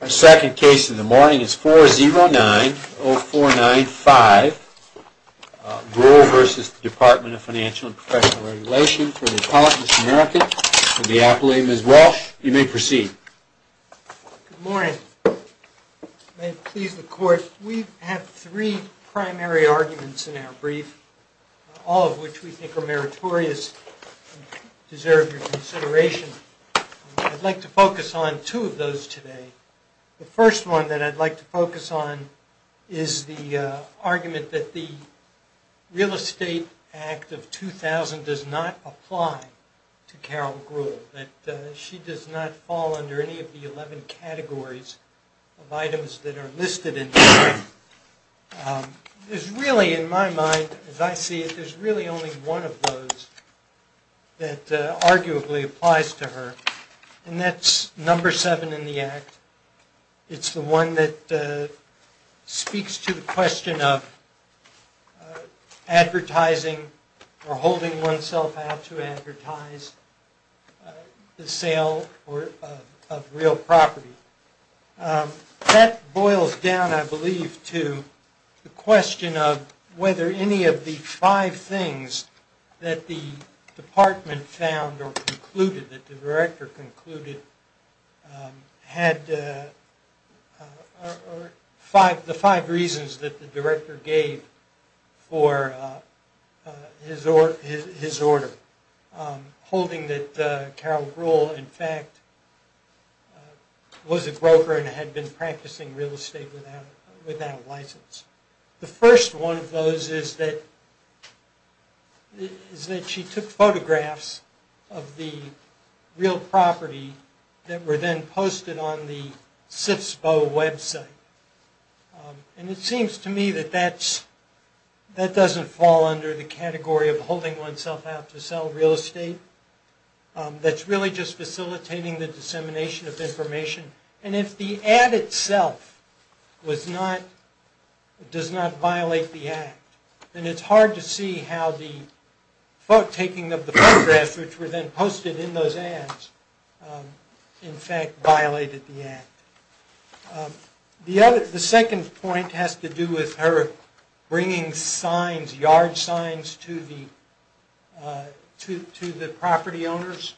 Our second case of the morning is 4090495, Brewell v. Department of Financial and Professional Regulation for the Apollonis American and the Appellee, Ms. Walsh. You may proceed. Good morning. May it please the Court, we have three primary arguments in our brief, all of which we think are meritorious and deserve your consideration. I'd like to focus on two of those today. The first one that I'd like to focus on is the argument that the Real Estate Act of 2000 does not apply to Carol Brewell, that she does not fall under any of the 11 categories of items that are listed in here. The second one is really in my mind, as I see it, there's really only one of those that arguably applies to her, and that's number seven in the Act. It's the one that speaks to the question of advertising or holding oneself out to advertise the sale of real property. That boils down, I believe, to the question of whether any of the five things that the Department found or concluded, that the Director concluded, had the five reasons that the Director gave for his order. The first one of those is that she took photographs of the real property that were then posted on the CIFSBO website. And it seems to me that that doesn't fall under the category of holding oneself out to sell real estate. That's really just facilitating the dissemination of information. And if the ad itself does not violate the Act, then it's hard to see how the taking of the photographs, which were then posted in those ads, in fact violated the Act. The second point has to do with her bringing yard signs to the property owners.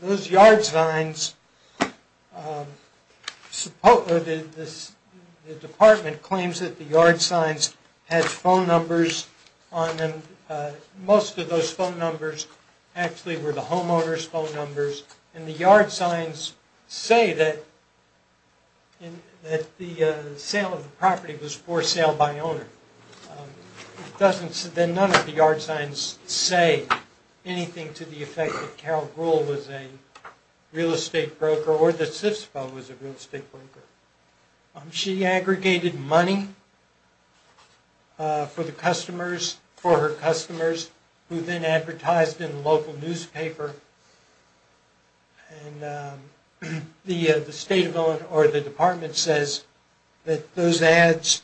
Those yard signs, the Department claims that the yard signs had phone numbers on them. Most of those phone numbers actually were the homeowner's phone numbers, and the yard signs say that the sale of the property was for sale by owner. Then none of the yard signs say anything to the effect that Carol Gruhl was a real estate broker or that CIFSBO was a real estate broker. She aggregated money for the customers, for her customers, who then advertised in the local newspaper. And the Department says that those ads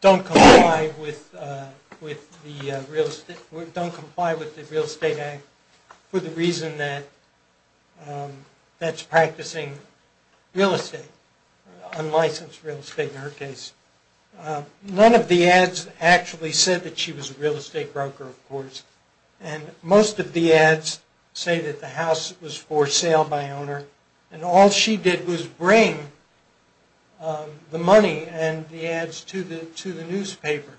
don't comply with the Real Estate Act for the reason that that's practicing real estate, unlicensed real estate in her case. None of the ads actually said that she was a real estate broker, of course, and most of the ads say that the house was for sale by owner, and all she did was bring the money and the ads to the newspaper.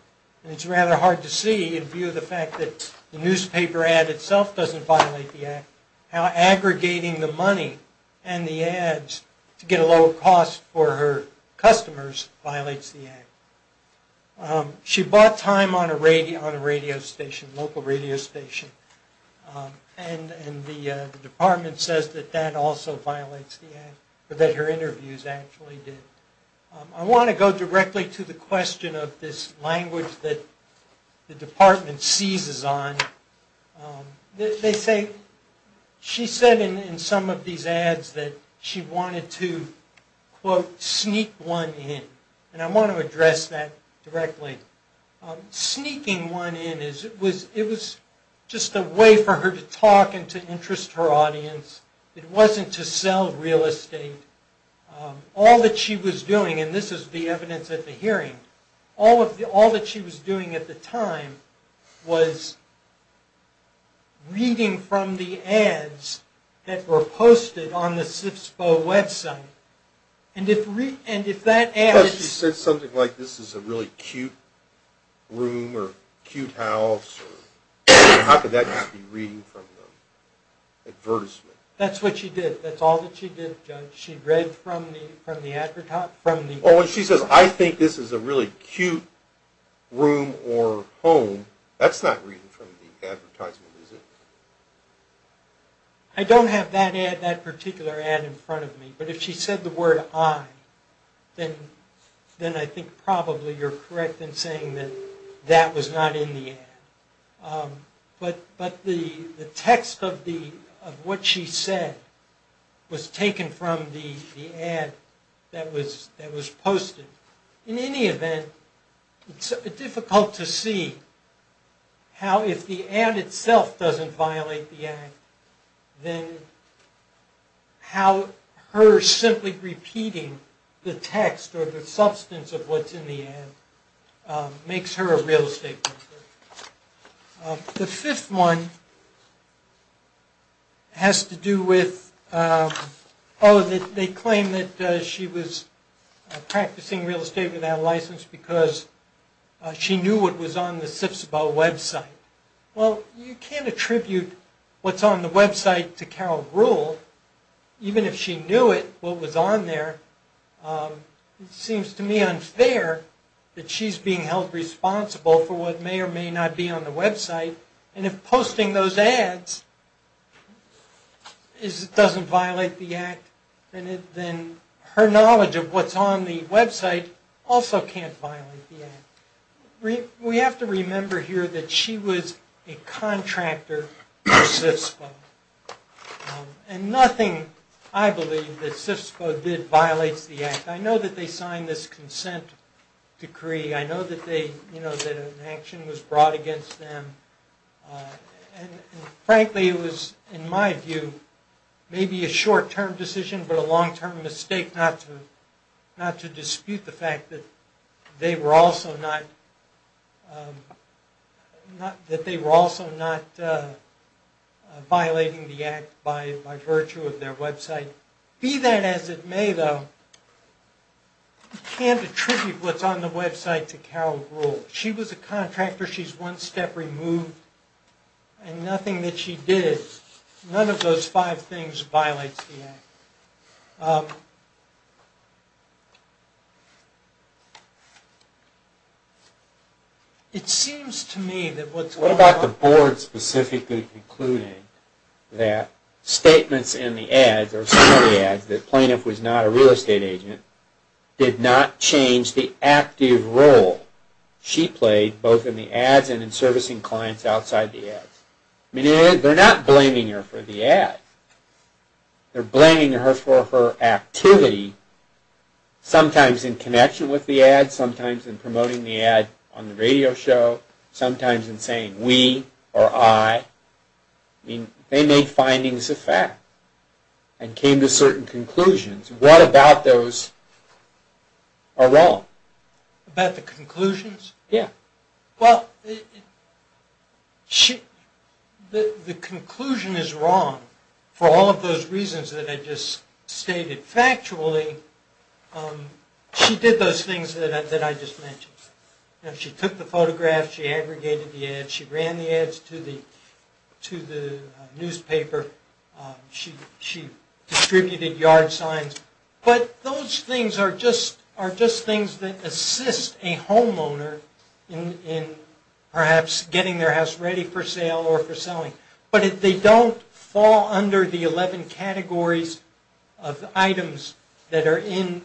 It's rather hard to see, in view of the fact that the newspaper ad itself doesn't violate the Act, how aggregating the money and the ads to get a lower cost for her customers violates the Act. She bought time on a radio station, local radio station, and the Department says that that also violates the Act, or that her interviews actually did. I want to go directly to the question of this language that the Department seizes on. They say, she said in some of these ads that she wanted to, quote, sneak one in. And I want to address that directly. Sneaking one in, it was just a way for her to talk and to interest her audience. It wasn't to sell real estate. All that she was doing, and this is the evidence at the hearing, all that she was doing at the time was reading from the ads that were posted on the CIFSPO website. Because she said something like, this is a really cute room or cute house, how could that just be reading from the advertisement? That's what she did. That's all that she did, Judge. She read from the advertisement. Well, when she says, I think this is a really cute room or home, that's not reading from the advertisement, is it? I don't have that particular ad in front of me. But if she said the word, I, then I think probably you're correct in saying that that was not in the ad. But the text of what she said was taken from the ad that was posted. In any event, it's difficult to see how if the ad itself doesn't violate the ad, then how her simply repeating the text or the substance of what's in the ad makes her a real estate broker. The fifth one has to do with, oh, they claim that she was practicing real estate without a license because she knew what was on the CIFSPO website. Well, you can't attribute what's on the website to Carol Gruhl. Even if she knew it, what was on there, it seems to me unfair that she's being held responsible for what may or may not be on the website. And if posting those ads doesn't violate the act, then her knowledge of what's on the website also can't violate the act. We have to remember here that she was a contractor for CIFSPO. And nothing, I believe, that CIFSPO did violates the act. I know that they signed this consent decree. I know that an action was brought against them. And frankly, it was, in my view, maybe a short-term decision but a long-term mistake not to dispute the fact that they were also not violating the act by virtue of their website. Be that as it may, though, you can't attribute what's on the website to Carol Gruhl. She was a contractor. She's one step removed. And nothing that she did, none of those five things, violates the act. It seems to me that what's going on... What about the board specifically concluding that statements in the ads or some of the ads that the plaintiff was not a real estate agent did not change the active role she played both in the ads and in servicing clients outside the ads? I mean, they're not blaming her for the ads. They're blaming her for her activity, sometimes in connection with the ads, sometimes in promoting the ad on the radio show, sometimes in saying we or I. I mean, they made findings of fact and came to certain conclusions. What about those are wrong? About the conclusions? Yeah. Well, the conclusion is wrong for all of those reasons that I just stated. Factually, she did those things that I just mentioned. She took the photograph. She aggregated the ads. She ran the ads to the newspaper. She distributed yard signs. But those things are just things that assist a homeowner in perhaps getting their house ready for sale or for selling. But they don't fall under the 11 categories of items that are in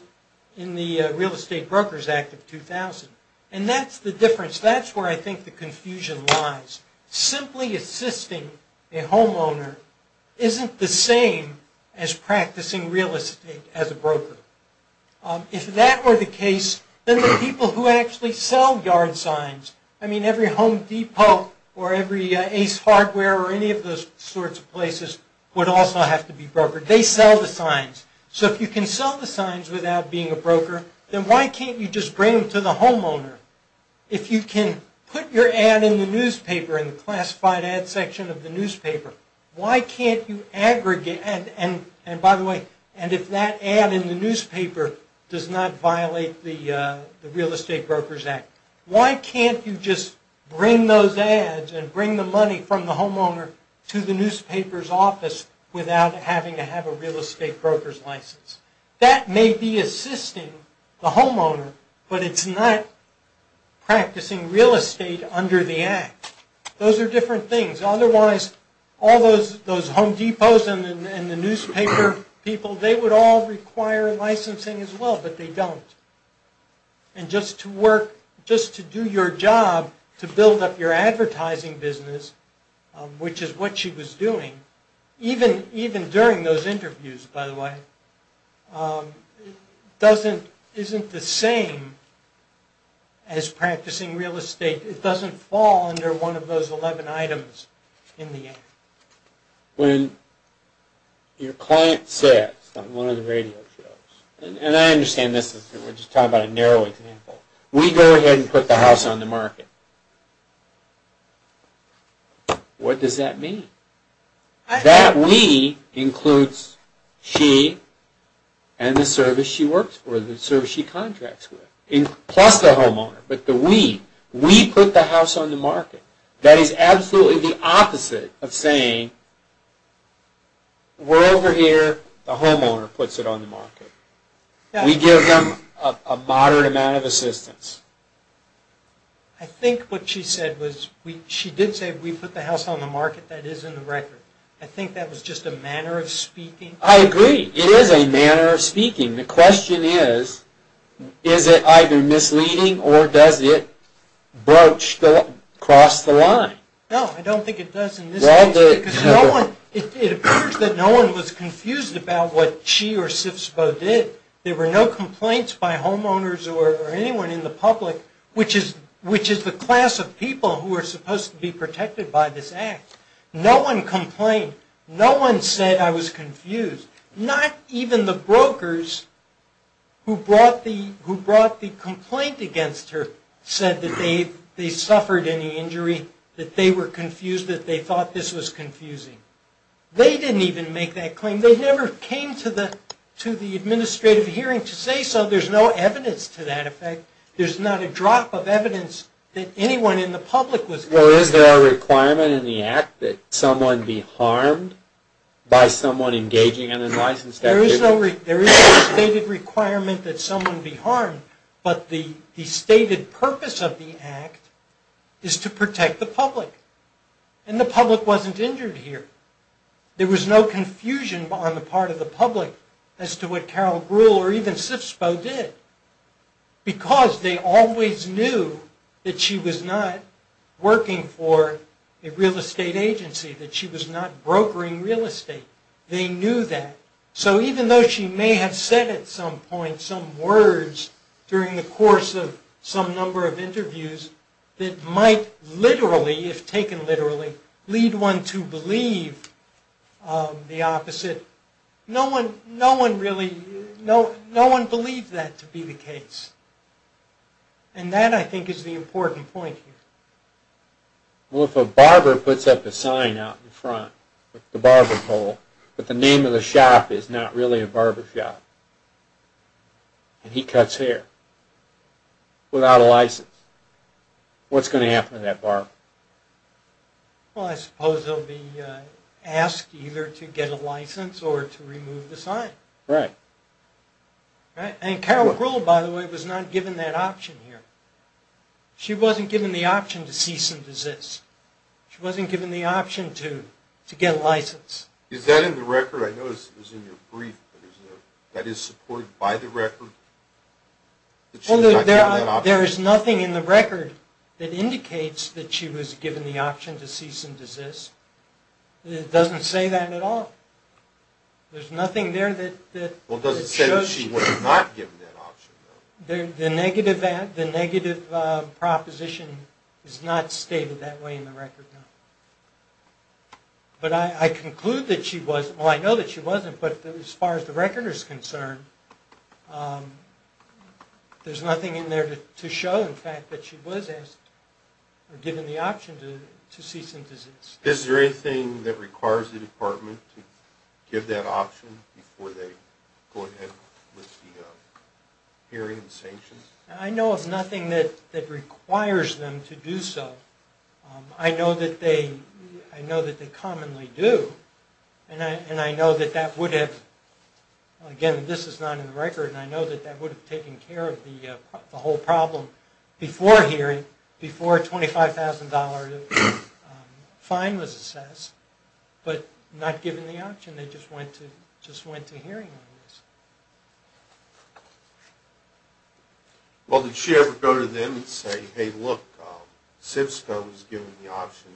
the Real Estate Brokers Act of 2000. And that's the difference. That's where I think the confusion lies. Simply assisting a homeowner isn't the same as practicing real estate as a broker. If that were the case, then the people who actually sell yard signs, I mean, every Home Depot or every Ace Hardware or any of those sorts of places would also have to be brokered. They sell the signs. So if you can sell the signs without being a broker, then why can't you just bring them to the homeowner? If you can put your ad in the newspaper, in the classified ad section of the newspaper, why can't you aggregate? And by the way, if that ad in the newspaper does not violate the Real Estate Brokers Act, why can't you just bring those ads and bring the money from the homeowner to the newspaper's office without having to have a real estate broker's license? That may be assisting the homeowner, but it's not practicing real estate under the Act. Those are different things. Otherwise, all those Home Depots and the newspaper people, they would all require licensing as well, but they don't. And just to do your job to build up your advertising business, which is what she was doing, even during those interviews, by the way, isn't the same as practicing real estate. It doesn't fall under one of those 11 items in the Act. When your client sits on one of the radio shows, and I understand this, we're just talking about a narrow example. We go ahead and put the house on the market. What does that mean? That we includes she and the service she works for, the service she contracts with, plus the homeowner. But the we. We put the house on the market. That is absolutely the opposite of saying, we're over here, the homeowner puts it on the market. We give them a moderate amount of assistance. I think what she said was, she did say we put the house on the market, that is in the record. I think that was just a manner of speaking. I agree. It is a manner of speaking. The question is, is it either misleading or does it broach, cross the line? No, I don't think it does in this case. It appears that no one was confused about what she or CIFSBO did. There were no complaints by homeowners or anyone in the public, which is the class of people who are supposed to be protected by this Act. No one complained. No one said, I was confused. Not even the brokers who brought the complaint against her said that they suffered any injury, that they were confused, that they thought this was confusing. They didn't even make that claim. They never came to the administrative hearing to say so. There's no evidence to that effect. There's not a drop of evidence that anyone in the public was confused. Well, is there a requirement in the Act that someone be harmed by someone engaging in an unlicensed activity? There is no stated requirement that someone be harmed, but the stated purpose of the Act is to protect the public. And the public wasn't injured here. There was no confusion on the part of the public as to what Carol Brewer or even CIFSBO did. Because they always knew that she was not working for a real estate agency, that she was not brokering real estate. They knew that. So even though she may have said at some point some words during the course of some number of interviews that might literally, if taken literally, lead one to believe the opposite, no one really, no one believed that to be the case. And that, I think, is the important point here. Well, if a barber puts up a sign out in front, the barber pole, but the name of the shop is not really a barber shop, and he cuts hair without a license, what's going to happen to that barber? Well, I suppose he'll be asked either to get a license or to remove the sign. Right. Right? And Carol Brewer, by the way, was not given that option here. She wasn't given the option to cease and desist. She wasn't given the option to get a license. Is that in the record? I noticed it was in your brief. That is supported by the record? Well, there is nothing in the record that indicates that she was given the option to cease and desist. It doesn't say that at all. There's nothing there that shows you. Well, does it say that she was not given that option? The negative proposition is not stated that way in the record, no. But I conclude that she was. Well, I know that she wasn't, but as far as the record is concerned, there's nothing in there to show, in fact, that she was given the option to cease and desist. Is there anything that requires the department to give that option before they go ahead with the hearing and sanctions? I know of nothing that requires them to do so. I know that they commonly do, and I know that that would have, again, this is not in the record, and I know that that would have taken care of the whole problem before a $25,000 fine was assessed, but not given the option. They just went to hearing on this. Well, did she ever go to them and say, hey, look, SIFSCO is giving the option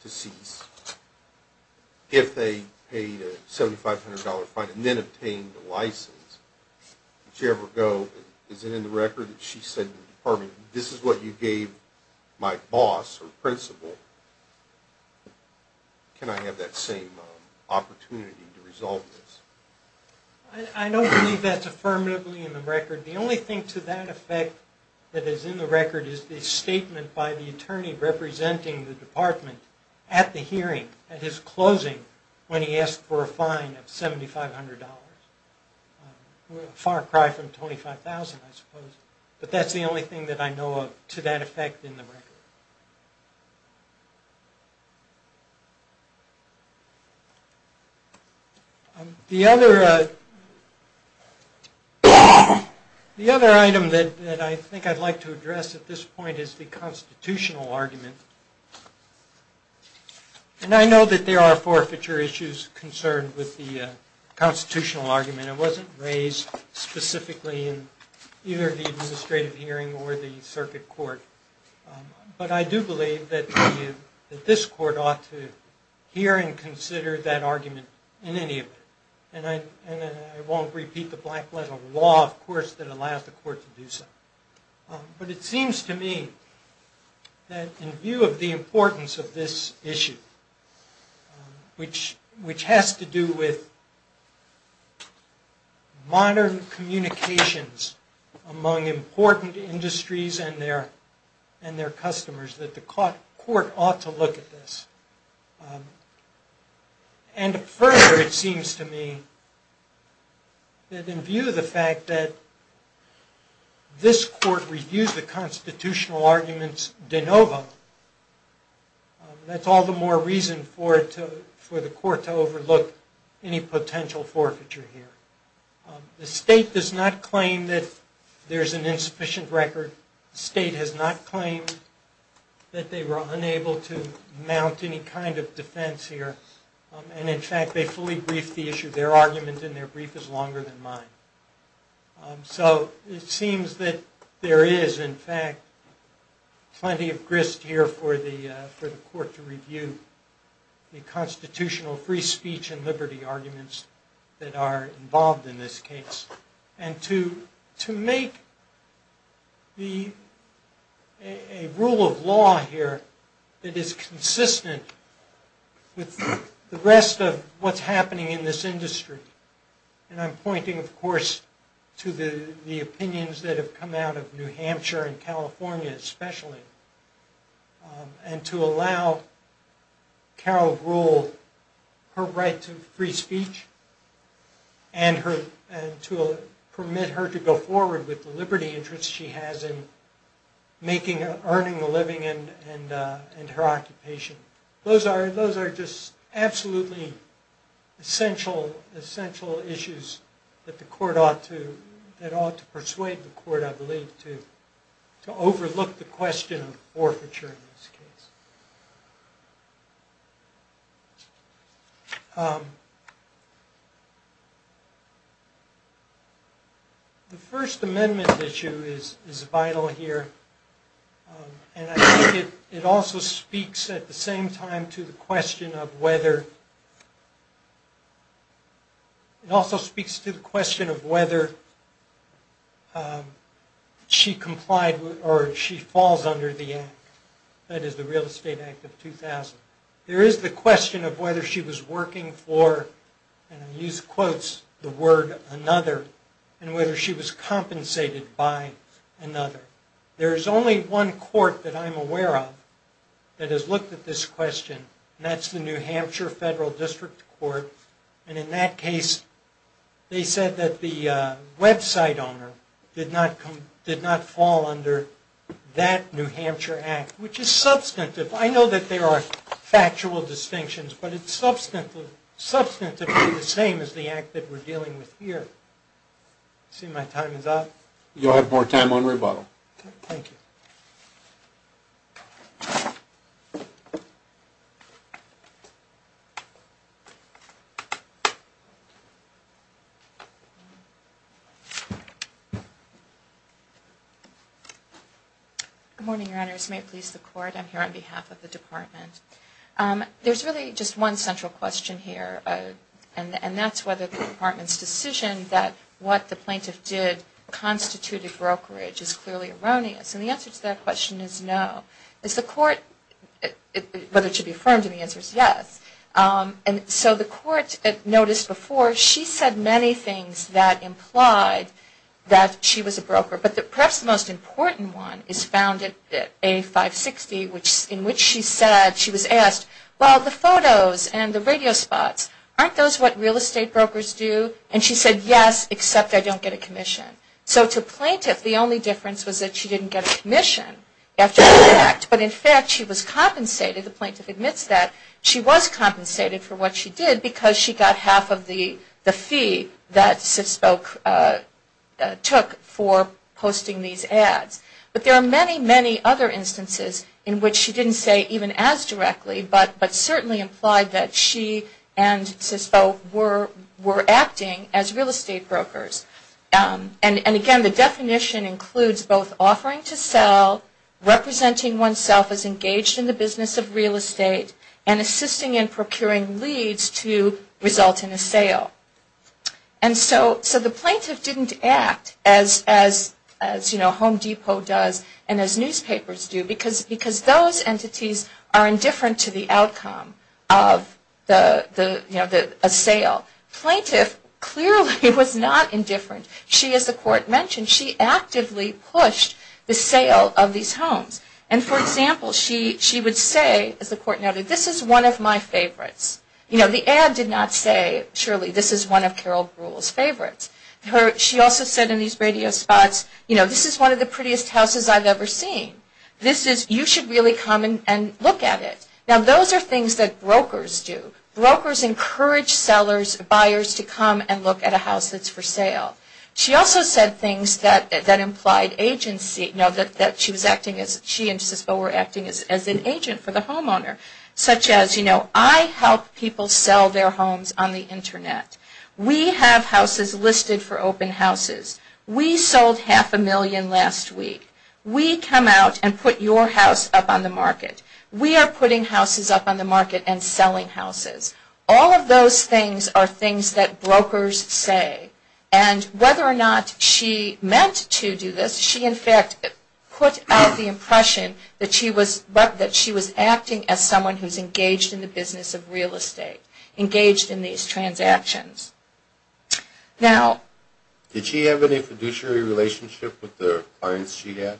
to cease if they paid a $7,500 fine and then obtained a license? Did she ever go, is it in the record that she said to the department, this is what you gave my boss or principal, can I have that same opportunity to resolve? I don't believe that's affirmatively in the record. The only thing to that effect that is in the record is the statement by the attorney representing the department at the hearing, at his closing, when he asked for a fine of $7,500. A far cry from $25,000, I suppose, but that's the only thing that I know of to that effect in the record. The other item that I think I'd like to address at this point is the constitutional argument, and I know that there are forfeiture issues concerned with the constitutional argument. It wasn't raised specifically in either the administrative hearing or the circuit court, but I do believe that this court ought to hear and consider that argument in any of it. And I won't repeat the black letter law, of course, that allows the court to do so. But it seems to me that in view of the importance of this issue, which has to do with modern communications among important industries and their customers, that the court ought to look at this. And further, it seems to me that in view of the fact that this court reviews the constitutional arguments de novo, that's all the more reason for the court to overlook any potential forfeiture here. The state does not claim that there's an insufficient record. The state has not claimed that they were unable to mount any kind of defense here. And, in fact, they fully briefed the issue. Their argument in their brief is longer than mine. So it seems that there is, in fact, plenty of grist here for the court to review the constitutional free speech and liberty arguments that are involved in this case. And to make a rule of law here that is consistent with the rest of what's happening in this industry. And I'm pointing, of course, to the opinions that have come out of New Hampshire and California especially. And to allow Carol Gould her right to free speech and to permit her to go forward with the liberty interests she has in earning a living and her occupation. Those are just absolutely essential issues that the court ought to persuade the court, I believe, to overlook the question of forfeiture in this case. The First Amendment issue is vital here. And I think it also speaks at the same time to the question of whether she complied or she falls under the Act. That is the Real Estate Act of 2000. There is the question of whether she was working for, and I use quotes, the word another. And whether she was compensated by another. There is only one court that I'm aware of that has looked at this question. And that's the New Hampshire Federal District Court. And in that case, they said that the website owner did not fall under that New Hampshire Act. Which is substantive. I know that there are factual distinctions, but it's substantively the same as the Act that we're dealing with here. I see my time is up. You'll have more time on rebuttal. Thank you. Good morning, Your Honors. May it please the Court. I'm here on behalf of the Department. There's really just one central question here. And that's whether the Department's decision that what the plaintiff did constituted brokerage is clearly erroneous. And the answer to that question is no. Is the Court, whether it should be affirmed in the answer is yes. And so the Court noticed before she said many things that implied that she was a broker. But perhaps the most important one is found in A560, in which she said, she was asked, well, the photos and the radio spots, aren't those what real estate brokers do? And she said, yes, except I don't get a commission. So to plaintiff, the only difference was that she didn't get a commission after the Act. But in fact, she was compensated. The plaintiff admits that she was compensated for what she did because she got half of the fee that CISPO took for posting these ads. But there are many, many other instances in which she didn't say even as directly, but certainly implied that she and CISPO were acting as real estate brokers. And again, the definition includes both offering to sell, representing oneself as engaged in the business of real estate, and assisting in procuring leads to result in a sale. And so the plaintiff didn't act as Home Depot does and as newspapers do, because those entities are indifferent to the outcome of a sale. Plaintiff clearly was not indifferent. She, as the Court mentioned, she actively pushed the sale of these homes. And for example, she would say, as the Court noted, this is one of my favorites. You know, the ad did not say, surely this is one of Carol Brewer's favorites. She also said in these radio spots, you know, this is one of the prettiest houses I've ever seen. This is, you should really come and look at it. Now those are things that brokers do. Brokers encourage sellers, buyers to come and look at a house that's for sale. She also said things that implied agency, you know, that she was acting as, she and Cisco were acting as an agent for the homeowner. Such as, you know, I help people sell their homes on the Internet. We have houses listed for open houses. We sold half a million last week. We come out and put your house up on the market. We are putting houses up on the market and selling houses. All of those things are things that brokers say. And whether or not she meant to do this, she in fact put out the impression that she was acting as someone who is engaged in the business of real estate. Engaged in these transactions. Now... Did she have any fiduciary relationship with the clients she had?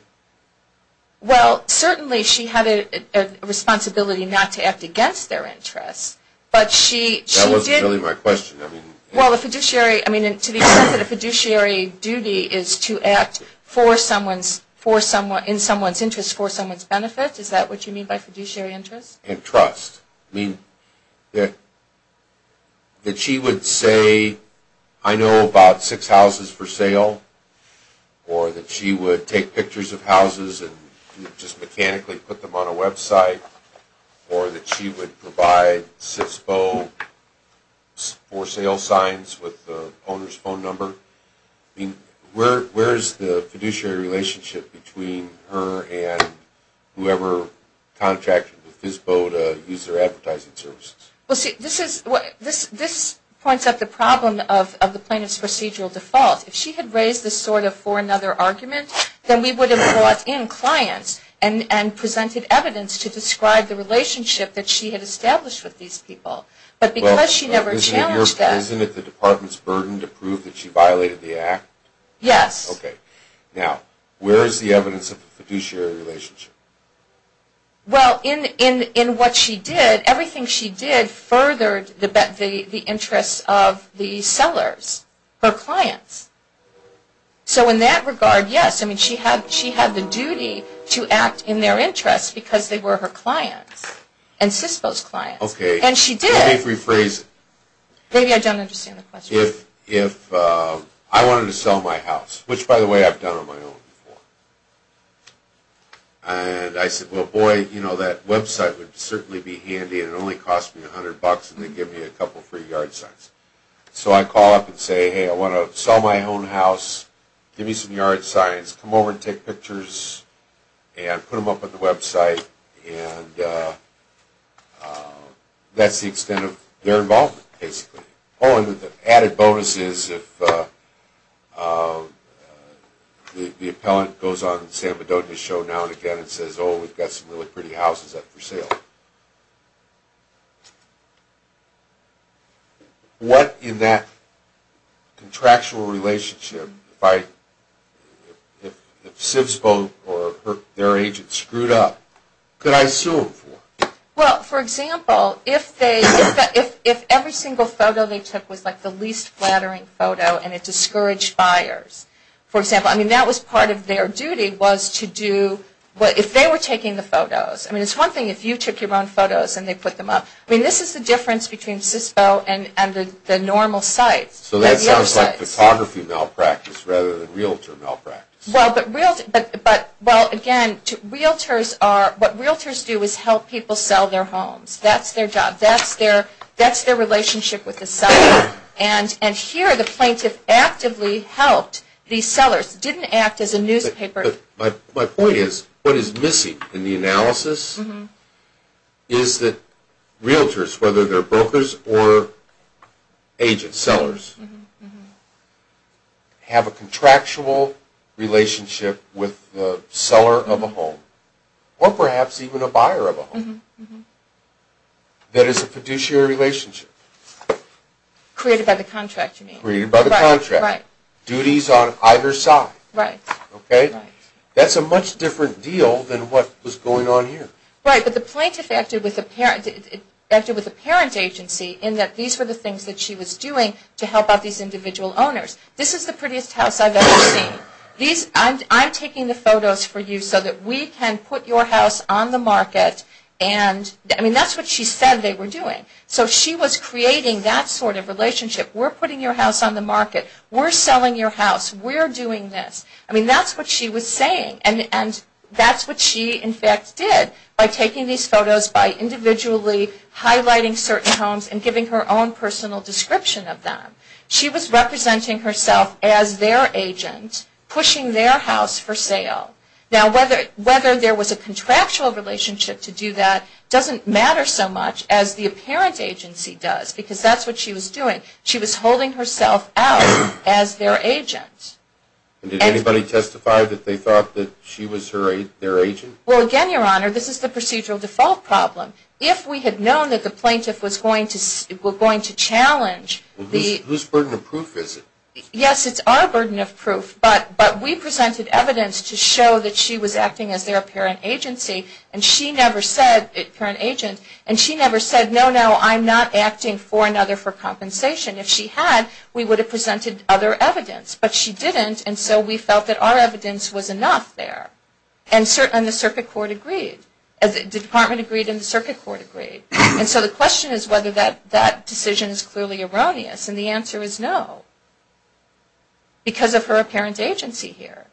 Well, certainly she had a responsibility not to act against their interests. But she... That wasn't really my question. Well, a fiduciary, I mean, to the extent that a fiduciary duty is to act for someone's, in someone's interest, for someone's benefit, is that what you mean by fiduciary interest? And trust. I mean, that she would say, I know about six houses for sale. Or that she would take pictures of houses and just mechanically put them on a website. Or that she would provide CISPO for sale signs with the owner's phone number. I mean, where is the fiduciary relationship between her and whoever contracted with CISPO to use their advertising services? Well, see, this is... This points out the problem of the plaintiff's procedural default. If she had raised this sort of for another argument, then we would have brought in clients and presented evidence to describe the relationship that she had established with these people. But because she never challenged that... Well, isn't it the department's burden to prove that she violated the act? Yes. Okay. Now, where is the evidence of the fiduciary relationship? Well, in what she did, everything she did furthered the interests of the sellers, her clients. So in that regard, yes, I mean, she had the duty to act in their interest because they were her clients and CISPO's clients. Okay. And she did... Let me rephrase. Maybe I don't understand the question. If I wanted to sell my house, which, by the way, I've done on my own before. And I said, well, boy, you know, that website would certainly be handy and it only cost me $100 and they'd give me a couple free yard signs. So I'd call up and say, hey, I want to sell my own house. Give me some yard signs. Come over and take pictures and put them up on the website. And that's the extent of their involvement, basically. Oh, and the added bonus is if the appellant goes on the San Bedonis show now and again and says, oh, we've got some really pretty houses up for sale. What in that contractual relationship, if CISPO or their agent screwed up, could I sue them for? Well, for example, if every single photo they took was like the least flattering photo and it discouraged buyers, for example. I mean, that was part of their duty was to do, if they were taking the photos. I mean, it's one thing if you took your own photos and they put them up. I mean, this is the difference between CISPO and the normal sites. So that sounds like photography malpractice rather than realtor malpractice. Well, again, what realtors do is help people sell their homes. That's their job. That's their relationship with the seller. And here the plaintiff actively helped the sellers. It didn't act as a newspaper. My point is what is missing in the analysis is that realtors, whether they're brokers or agent sellers, have a contractual relationship with the seller of a home or perhaps even a buyer of a home that is a fiduciary relationship. Created by the contract, you mean. Created by the contract. Right. Duties on either side. Right. Okay? Right. That's a much different deal than what was going on here. Right. But the plaintiff acted with a parent agency in that these were the things that she was doing to help out these individual owners. This is the prettiest house I've ever seen. I'm taking the photos for you so that we can put your house on the market. I mean, that's what she said they were doing. So she was creating that sort of relationship. We're putting your house on the market. We're selling your house. We're doing this. I mean, that's what she was saying. And that's what she, in fact, did by taking these photos, by individually highlighting certain homes and giving her own personal description of them. She was representing herself as their agent, pushing their house for sale. Now, whether there was a contractual relationship to do that doesn't matter so much as the parent agency does because that's what she was doing. She was holding herself out as their agent. Did anybody testify that they thought that she was their agent? Well, again, Your Honor, this is the procedural default problem. If we had known that the plaintiff was going to challenge the ---- Whose burden of proof is it? Yes, it's our burden of proof. But we presented evidence to show that she was acting as their parent agency and she never said, no, no, I'm not acting for another for compensation. If she had, we would have presented other evidence. But she didn't, and so we felt that our evidence was enough there. And the circuit court agreed. The department agreed and the circuit court agreed. And so the question is whether that decision is clearly erroneous, and the answer is no because of her apparent agency here.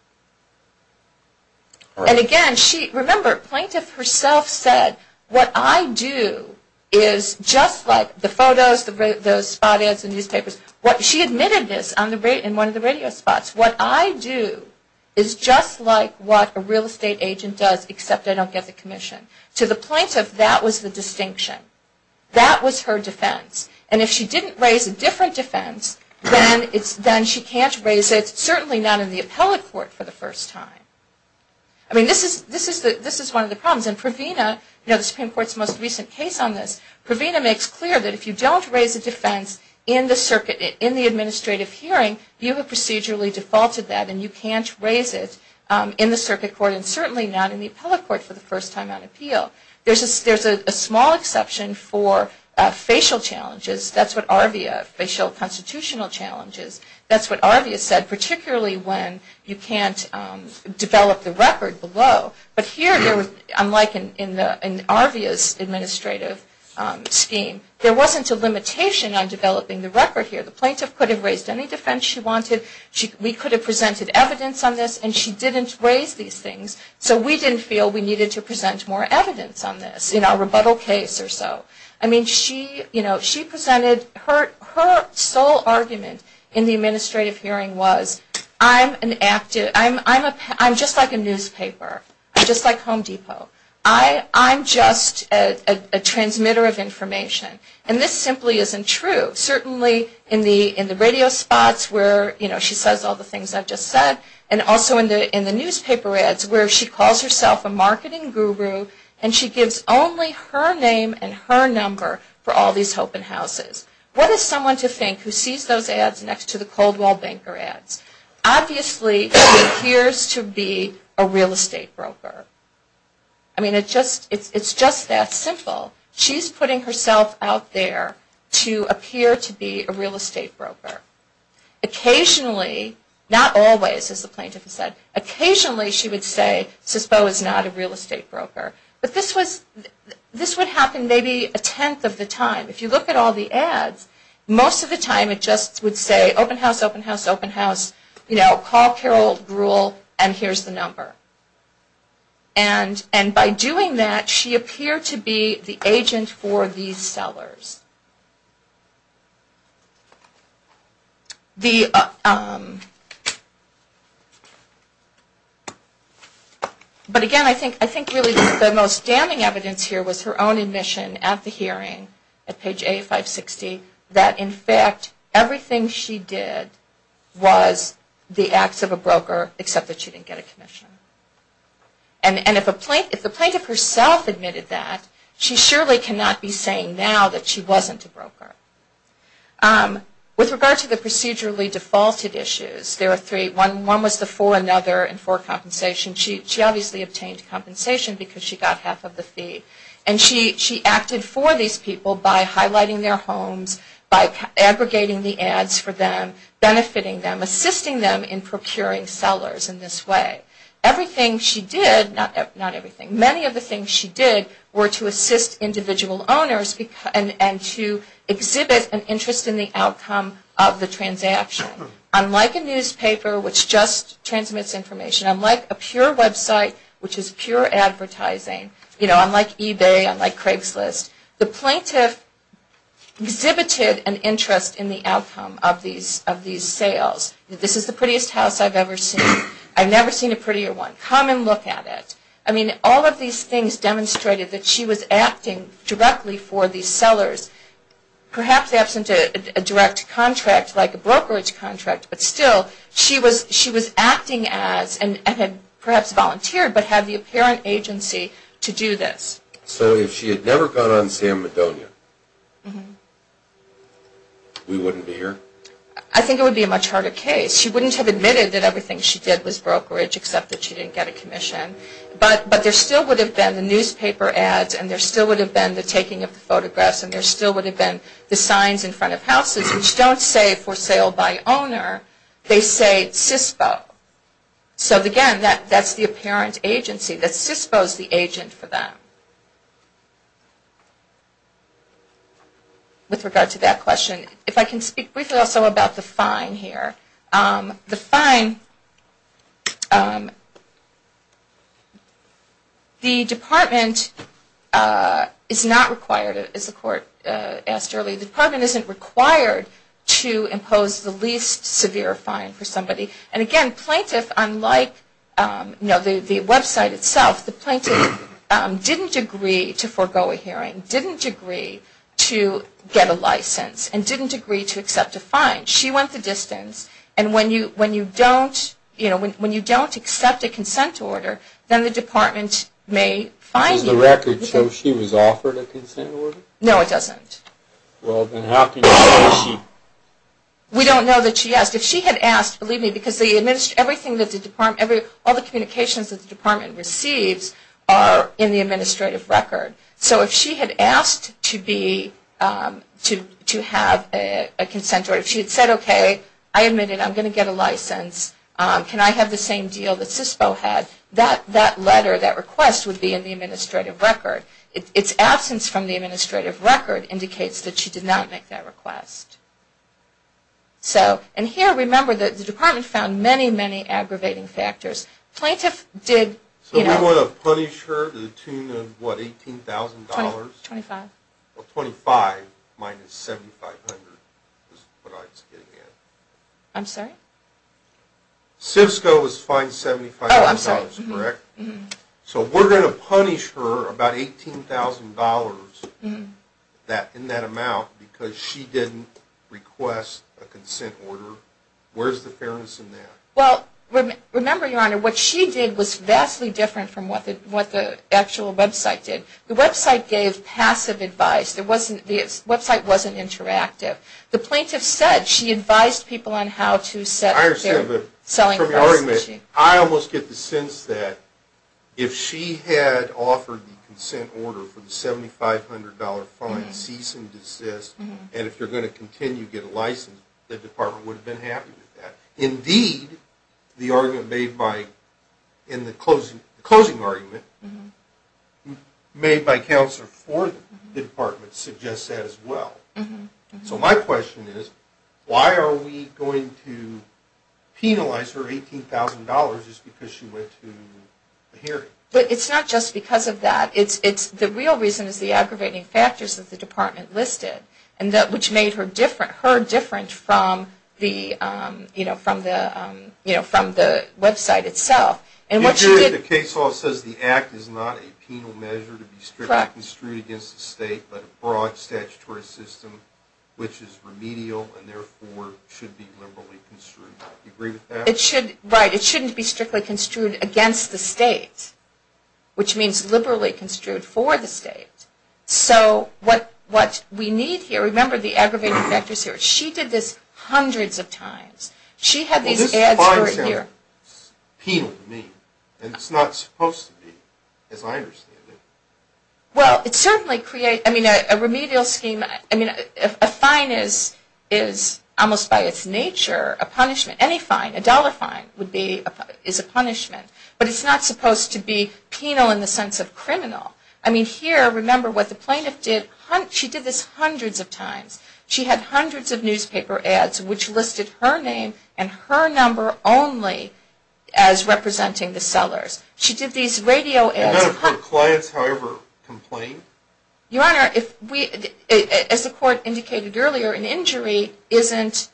And again, remember, plaintiff herself said, what I do is just like the photos, the spot ads in newspapers. She admitted this in one of the radio spots. What I do is just like what a real estate agent does, except I don't get the commission. To the plaintiff, that was the distinction. That was her defense. And if she didn't raise a different defense, then she can't raise it, certainly not in the appellate court for the first time. I mean, this is one of the problems. And Pravina, the Supreme Court's most recent case on this, Pravina makes clear that if you don't raise a defense in the circuit, in the administrative hearing, you have procedurally defaulted that and you can't raise it in the circuit court, and certainly not in the appellate court for the first time on appeal. There's a small exception for facial challenges. That's what ARVIA, facial constitutional challenges, that's what ARVIA said, particularly when you can't develop the record below. But here, unlike in ARVIA's administrative scheme, there wasn't a limitation on developing the record here. The plaintiff could have raised any defense she wanted. We could have presented evidence on this, and she didn't raise these things, so we didn't feel we needed to present more evidence on this, in our rebuttal case or so. I mean, she presented her sole argument in the administrative hearing was, I'm just like a newspaper. I'm just like Home Depot. I'm just a transmitter of information. And this simply isn't true. Certainly in the radio spots where she says all the things I've just said, and also in the newspaper ads where she calls herself a marketing guru, and she gives only her name and her number for all these open houses. What is someone to think who sees those ads next to the Coldwall Banker ads? Obviously, she appears to be a real estate broker. I mean, it's just that simple. She's putting herself out there to appear to be a real estate broker. Occasionally, not always, as the plaintiff has said, occasionally she would say CISPO is not a real estate broker. But this would happen maybe a tenth of the time. If you look at all the ads, most of the time it just would say, open house, open house, open house. You know, call Carol Gruhl and here's the number. And by doing that, she appeared to be the agent for these sellers. But again, I think really the most damning evidence here was her own admission at the hearing, at page A560, that in fact everything she did was the acts of a broker, except that she didn't get a commission. And if the plaintiff herself admitted that, she surely cannot be saying now that she wasn't a broker. With regard to the procedurally defaulted issues, there are three. One was the for another and for compensation. She obviously obtained compensation because she got half of the fee. And she acted for these people by highlighting their homes, by aggregating the ads for them, benefiting them, assisting them in procuring sellers in this way. Everything she did, not everything, many of the things she did were to assist individual owners and to exhibit an interest in the outcome of the transaction. Unlike a newspaper, which just transmits information, unlike a pure website, which is pure advertising, unlike eBay, unlike Craigslist, the plaintiff exhibited an interest in the outcome of these sales. This is the prettiest house I've ever seen. I've never seen a prettier one. Come and look at it. I mean, all of these things demonstrated that she was acting directly for these sellers, perhaps absent a direct contract like a brokerage contract, but still she was acting as, and had perhaps volunteered, but had the apparent agency to do this. So if she had never gone on San Madonia, we wouldn't be here? I think it would be a much harder case. She wouldn't have admitted that everything she did was brokerage, except that she didn't get a commission. But there still would have been the newspaper ads, and there still would have been the taking of the photographs, and there still would have been the signs in front of houses, which don't say for sale by owner, they say CISPO. So, again, that's the apparent agency, that CISPO is the agent for them. With regard to that question, if I can speak briefly also about the fine here. The fine, the department is not required, as the court asked earlier, the department isn't required to impose the least severe fine for somebody. And, again, plaintiff, unlike the website itself, the plaintiff didn't agree to forego a hearing, didn't agree to get a license, and didn't agree to accept a fine. She went the distance, and when you don't accept a consent order, then the department may fine you. Does the record show she was offered a consent order? No, it doesn't. Well, then how can you say she? We don't know that she asked. If she had asked, believe me, because everything that the department, all the communications that the department receives are in the administrative record. So if she had asked to have a consent order, if she had said, okay, I admit it, I'm going to get a license, can I have the same deal that CISPO had, that letter, that request would be in the administrative record. Its absence from the administrative record indicates that she did not make that request. So, and here, remember, the department found many, many aggravating factors. Plaintiff did, you know. So we want to punish her to the tune of what, $18,000? $25,000. Well, $25,000 minus $7,500 is what I was getting at. I'm sorry? Oh, I'm sorry. So we're going to punish her about $18,000 in that amount because she didn't request a consent order? Where's the fairness in that? Well, remember, Your Honor, what she did was vastly different from what the actual website did. The website gave passive advice. The website wasn't interactive. The plaintiff said she advised people on how to set their selling price. I almost get the sense that if she had offered the consent order for the $7,500 fine, cease and desist, and if you're going to continue to get a license, the department would have been happy with that. Indeed, the closing argument made by counsel for the department suggests that as well. So my question is, why are we going to penalize her $18,000 just because she went to the hearing? It's not just because of that. The real reason is the aggravating factors that the department listed, which made her different from the website itself. The case law says the act is not a penal measure to be strictly construed against the state, but a broad statutory system which is remedial and therefore should be liberally construed. Do you agree with that? Right. It shouldn't be strictly construed against the state, which means liberally construed for the state. So what we need here, remember the aggravating factors here. She did this hundreds of times. Well, this fine is penal to me, and it's not supposed to be, as I understand it. Well, it certainly creates a remedial scheme. I mean, a fine is almost by its nature a punishment. Any fine, a dollar fine, is a punishment. But it's not supposed to be penal in the sense of criminal. I mean, here, remember what the plaintiff did. She did this hundreds of times. She had hundreds of newspaper ads which listed her name and her number only as representing the sellers. She did these radio ads. And none of her clients, however, complained? Your Honor, as the court indicated earlier, an injury isn't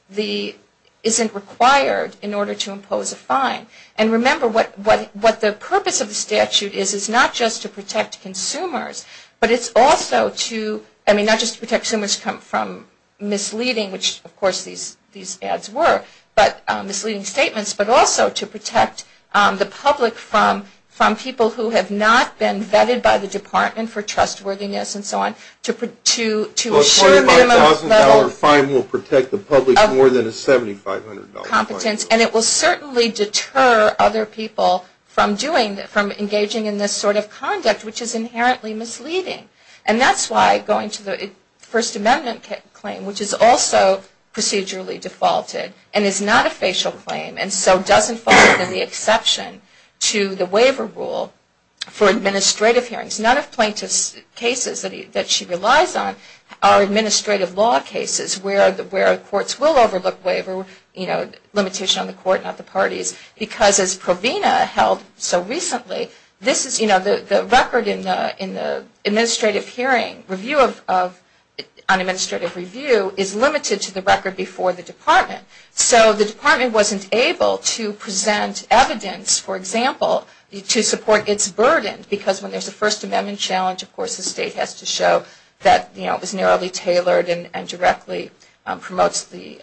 required in order to impose a fine. And remember, what the purpose of the statute is is not just to protect consumers, but it's also to, I mean, not just to protect consumers from misleading, which, of course, these ads were, but misleading statements, but also to protect the public from people who have not been vetted by the Department for trustworthiness and so on, to assure them a level of competence. A $5,000 fine will protect the public more than a $7,500 fine. And it will certainly deter other people from engaging in this sort of conduct, which is inherently misleading. And that's why going to the First Amendment claim, which is also procedurally defaulted and is not a facial claim and so doesn't fall under the exception to the waiver rule for administrative hearings. None of plaintiff's cases that she relies on are administrative law cases where courts will overlook waiver, you know, limitation on the court, not the parties, because as Provena held so recently, this is, you know, the record in the administrative hearing, review of unadministrative review, is limited to the record before the Department. So the Department wasn't able to present evidence, for example, to support its burden, because when there's a First Amendment challenge, of course, the state has to show that, you know, it was narrowly tailored and directly promotes the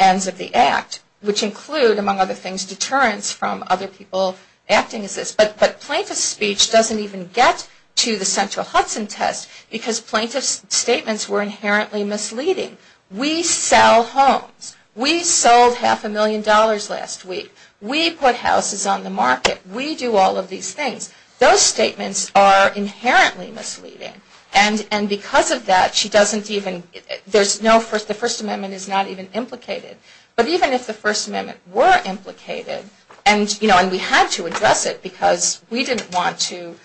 ends of the act, which include, among other things, deterrence from other people acting as this. But plaintiff's speech doesn't even get to the central Hudson test, because plaintiff's statements were inherently misleading. We sell homes. We sold half a million dollars last week. We put houses on the market. We do all of these things. Those statements are inherently misleading. And because of that, she doesn't even, there's no, the First Amendment is not even implicated. But even if the First Amendment were implicated, and, you know, and we had to address it, because we didn't want to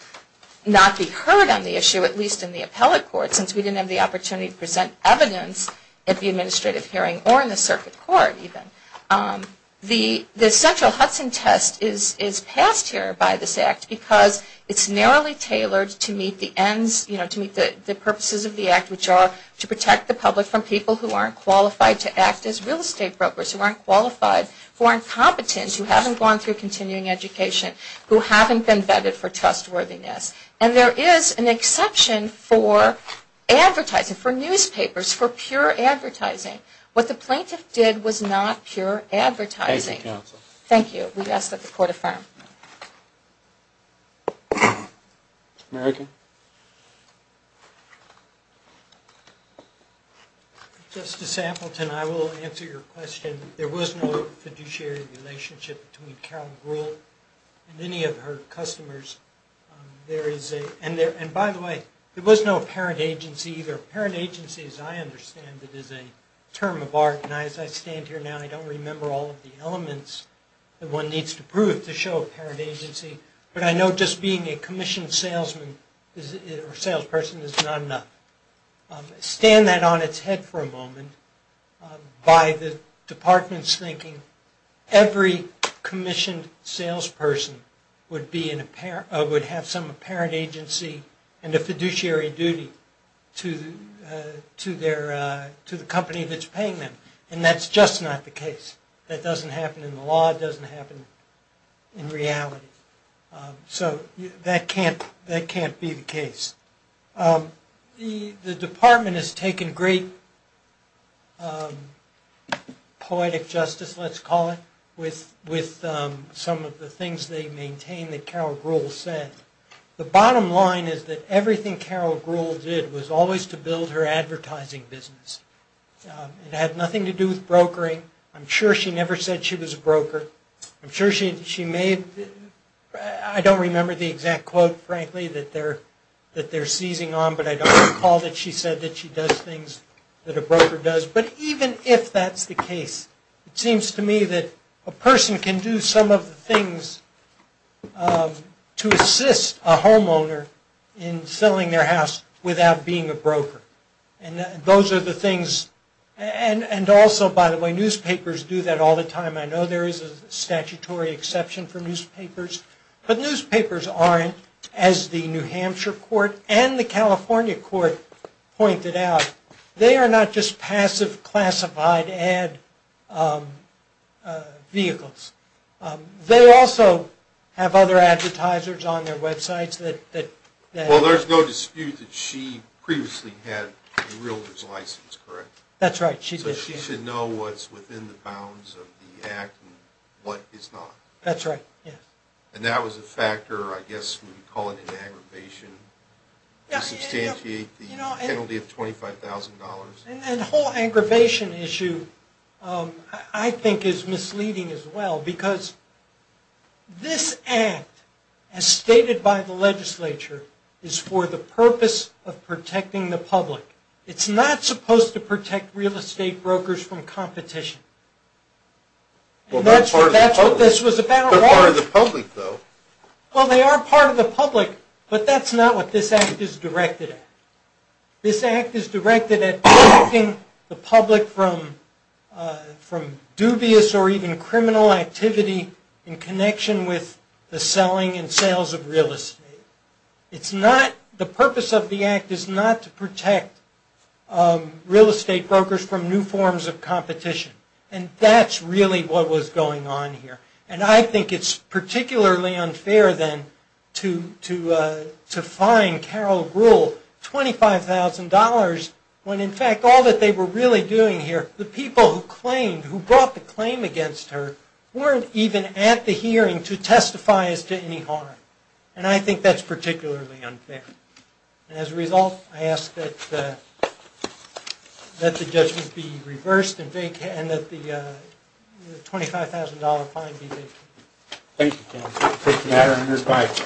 not be heard on the issue, at least in the appellate court, since we didn't have the opportunity to present evidence at the administrative hearing, or in the circuit court even, the central Hudson test is passed here by this act, because it's narrowly tailored to meet the ends, you know, to meet the purposes of the act, which are to protect the public from people who aren't qualified to act as real estate brokers, who aren't qualified, who aren't competent, who haven't gone through continuing education, who haven't been vetted for trustworthiness. And there is an exception for advertising, for newspapers, for pure advertising. What the plaintiff did was not pure advertising. Thank you, counsel. Thank you. We ask that the court affirm. Thank you. American. Justice Appleton, I will answer your question. There was no fiduciary relationship between Carol Gruhl and any of her customers. And, by the way, there was no parent agency either. Parent agency, as I understand it, is a term of art, and as I stand here now, and I don't remember all of the elements that one needs to prove to show a parent agency, but I know just being a commissioned salesman or salesperson is not enough. Stand that on its head for a moment by the department's thinking, every commissioned salesperson would have some apparent agency and a fiduciary duty to the company that's paying them. And that's just not the case. That doesn't happen in the law. It doesn't happen in reality. So that can't be the case. The department has taken great poetic justice, let's call it, with some of the things they maintain that Carol Gruhl said. The bottom line is that everything Carol Gruhl did was always to build her advertising business. It had nothing to do with brokering. I'm sure she never said she was a broker. I'm sure she made, I don't remember the exact quote, frankly, that they're seizing on, but I don't recall that she said that she does things that a broker does. But even if that's the case, it seems to me that a person can do some of the things to assist a homeowner in selling their house without being a broker. And those are the things. And also, by the way, newspapers do that all the time. I know there is a statutory exception for newspapers. But newspapers aren't, as the New Hampshire court and the California court pointed out, they are not just passive classified ad vehicles. They also have other advertisers on their websites that... She had a realtor's license, correct? That's right, she did. So she should know what's within the bounds of the act and what is not. That's right, yes. And that was a factor, I guess we would call it an aggravation, to substantiate the penalty of $25,000. And the whole aggravation issue, I think, is misleading as well, because this act, as stated by the legislature, is for the purpose of protecting the public. It's not supposed to protect real estate brokers from competition. And that's what this was about. They're part of the public, though. Well, they are part of the public, but that's not what this act is directed at. This act is directed at protecting the public from dubious or even criminal activity in connection with the selling and sales of real estate. The purpose of the act is not to protect real estate brokers from new forms of competition. And that's really what was going on here. And I think it's particularly unfair, then, to fine Carol Gruhl $25,000 when, in fact, all that they were really doing here, the people who brought the claim against her, weren't even at the hearing to testify as to any harm. And I think that's particularly unfair. And as a result, I ask that the judgment be reversed and that the $25,000 fine be taken. Thank you, Mr. Chairman.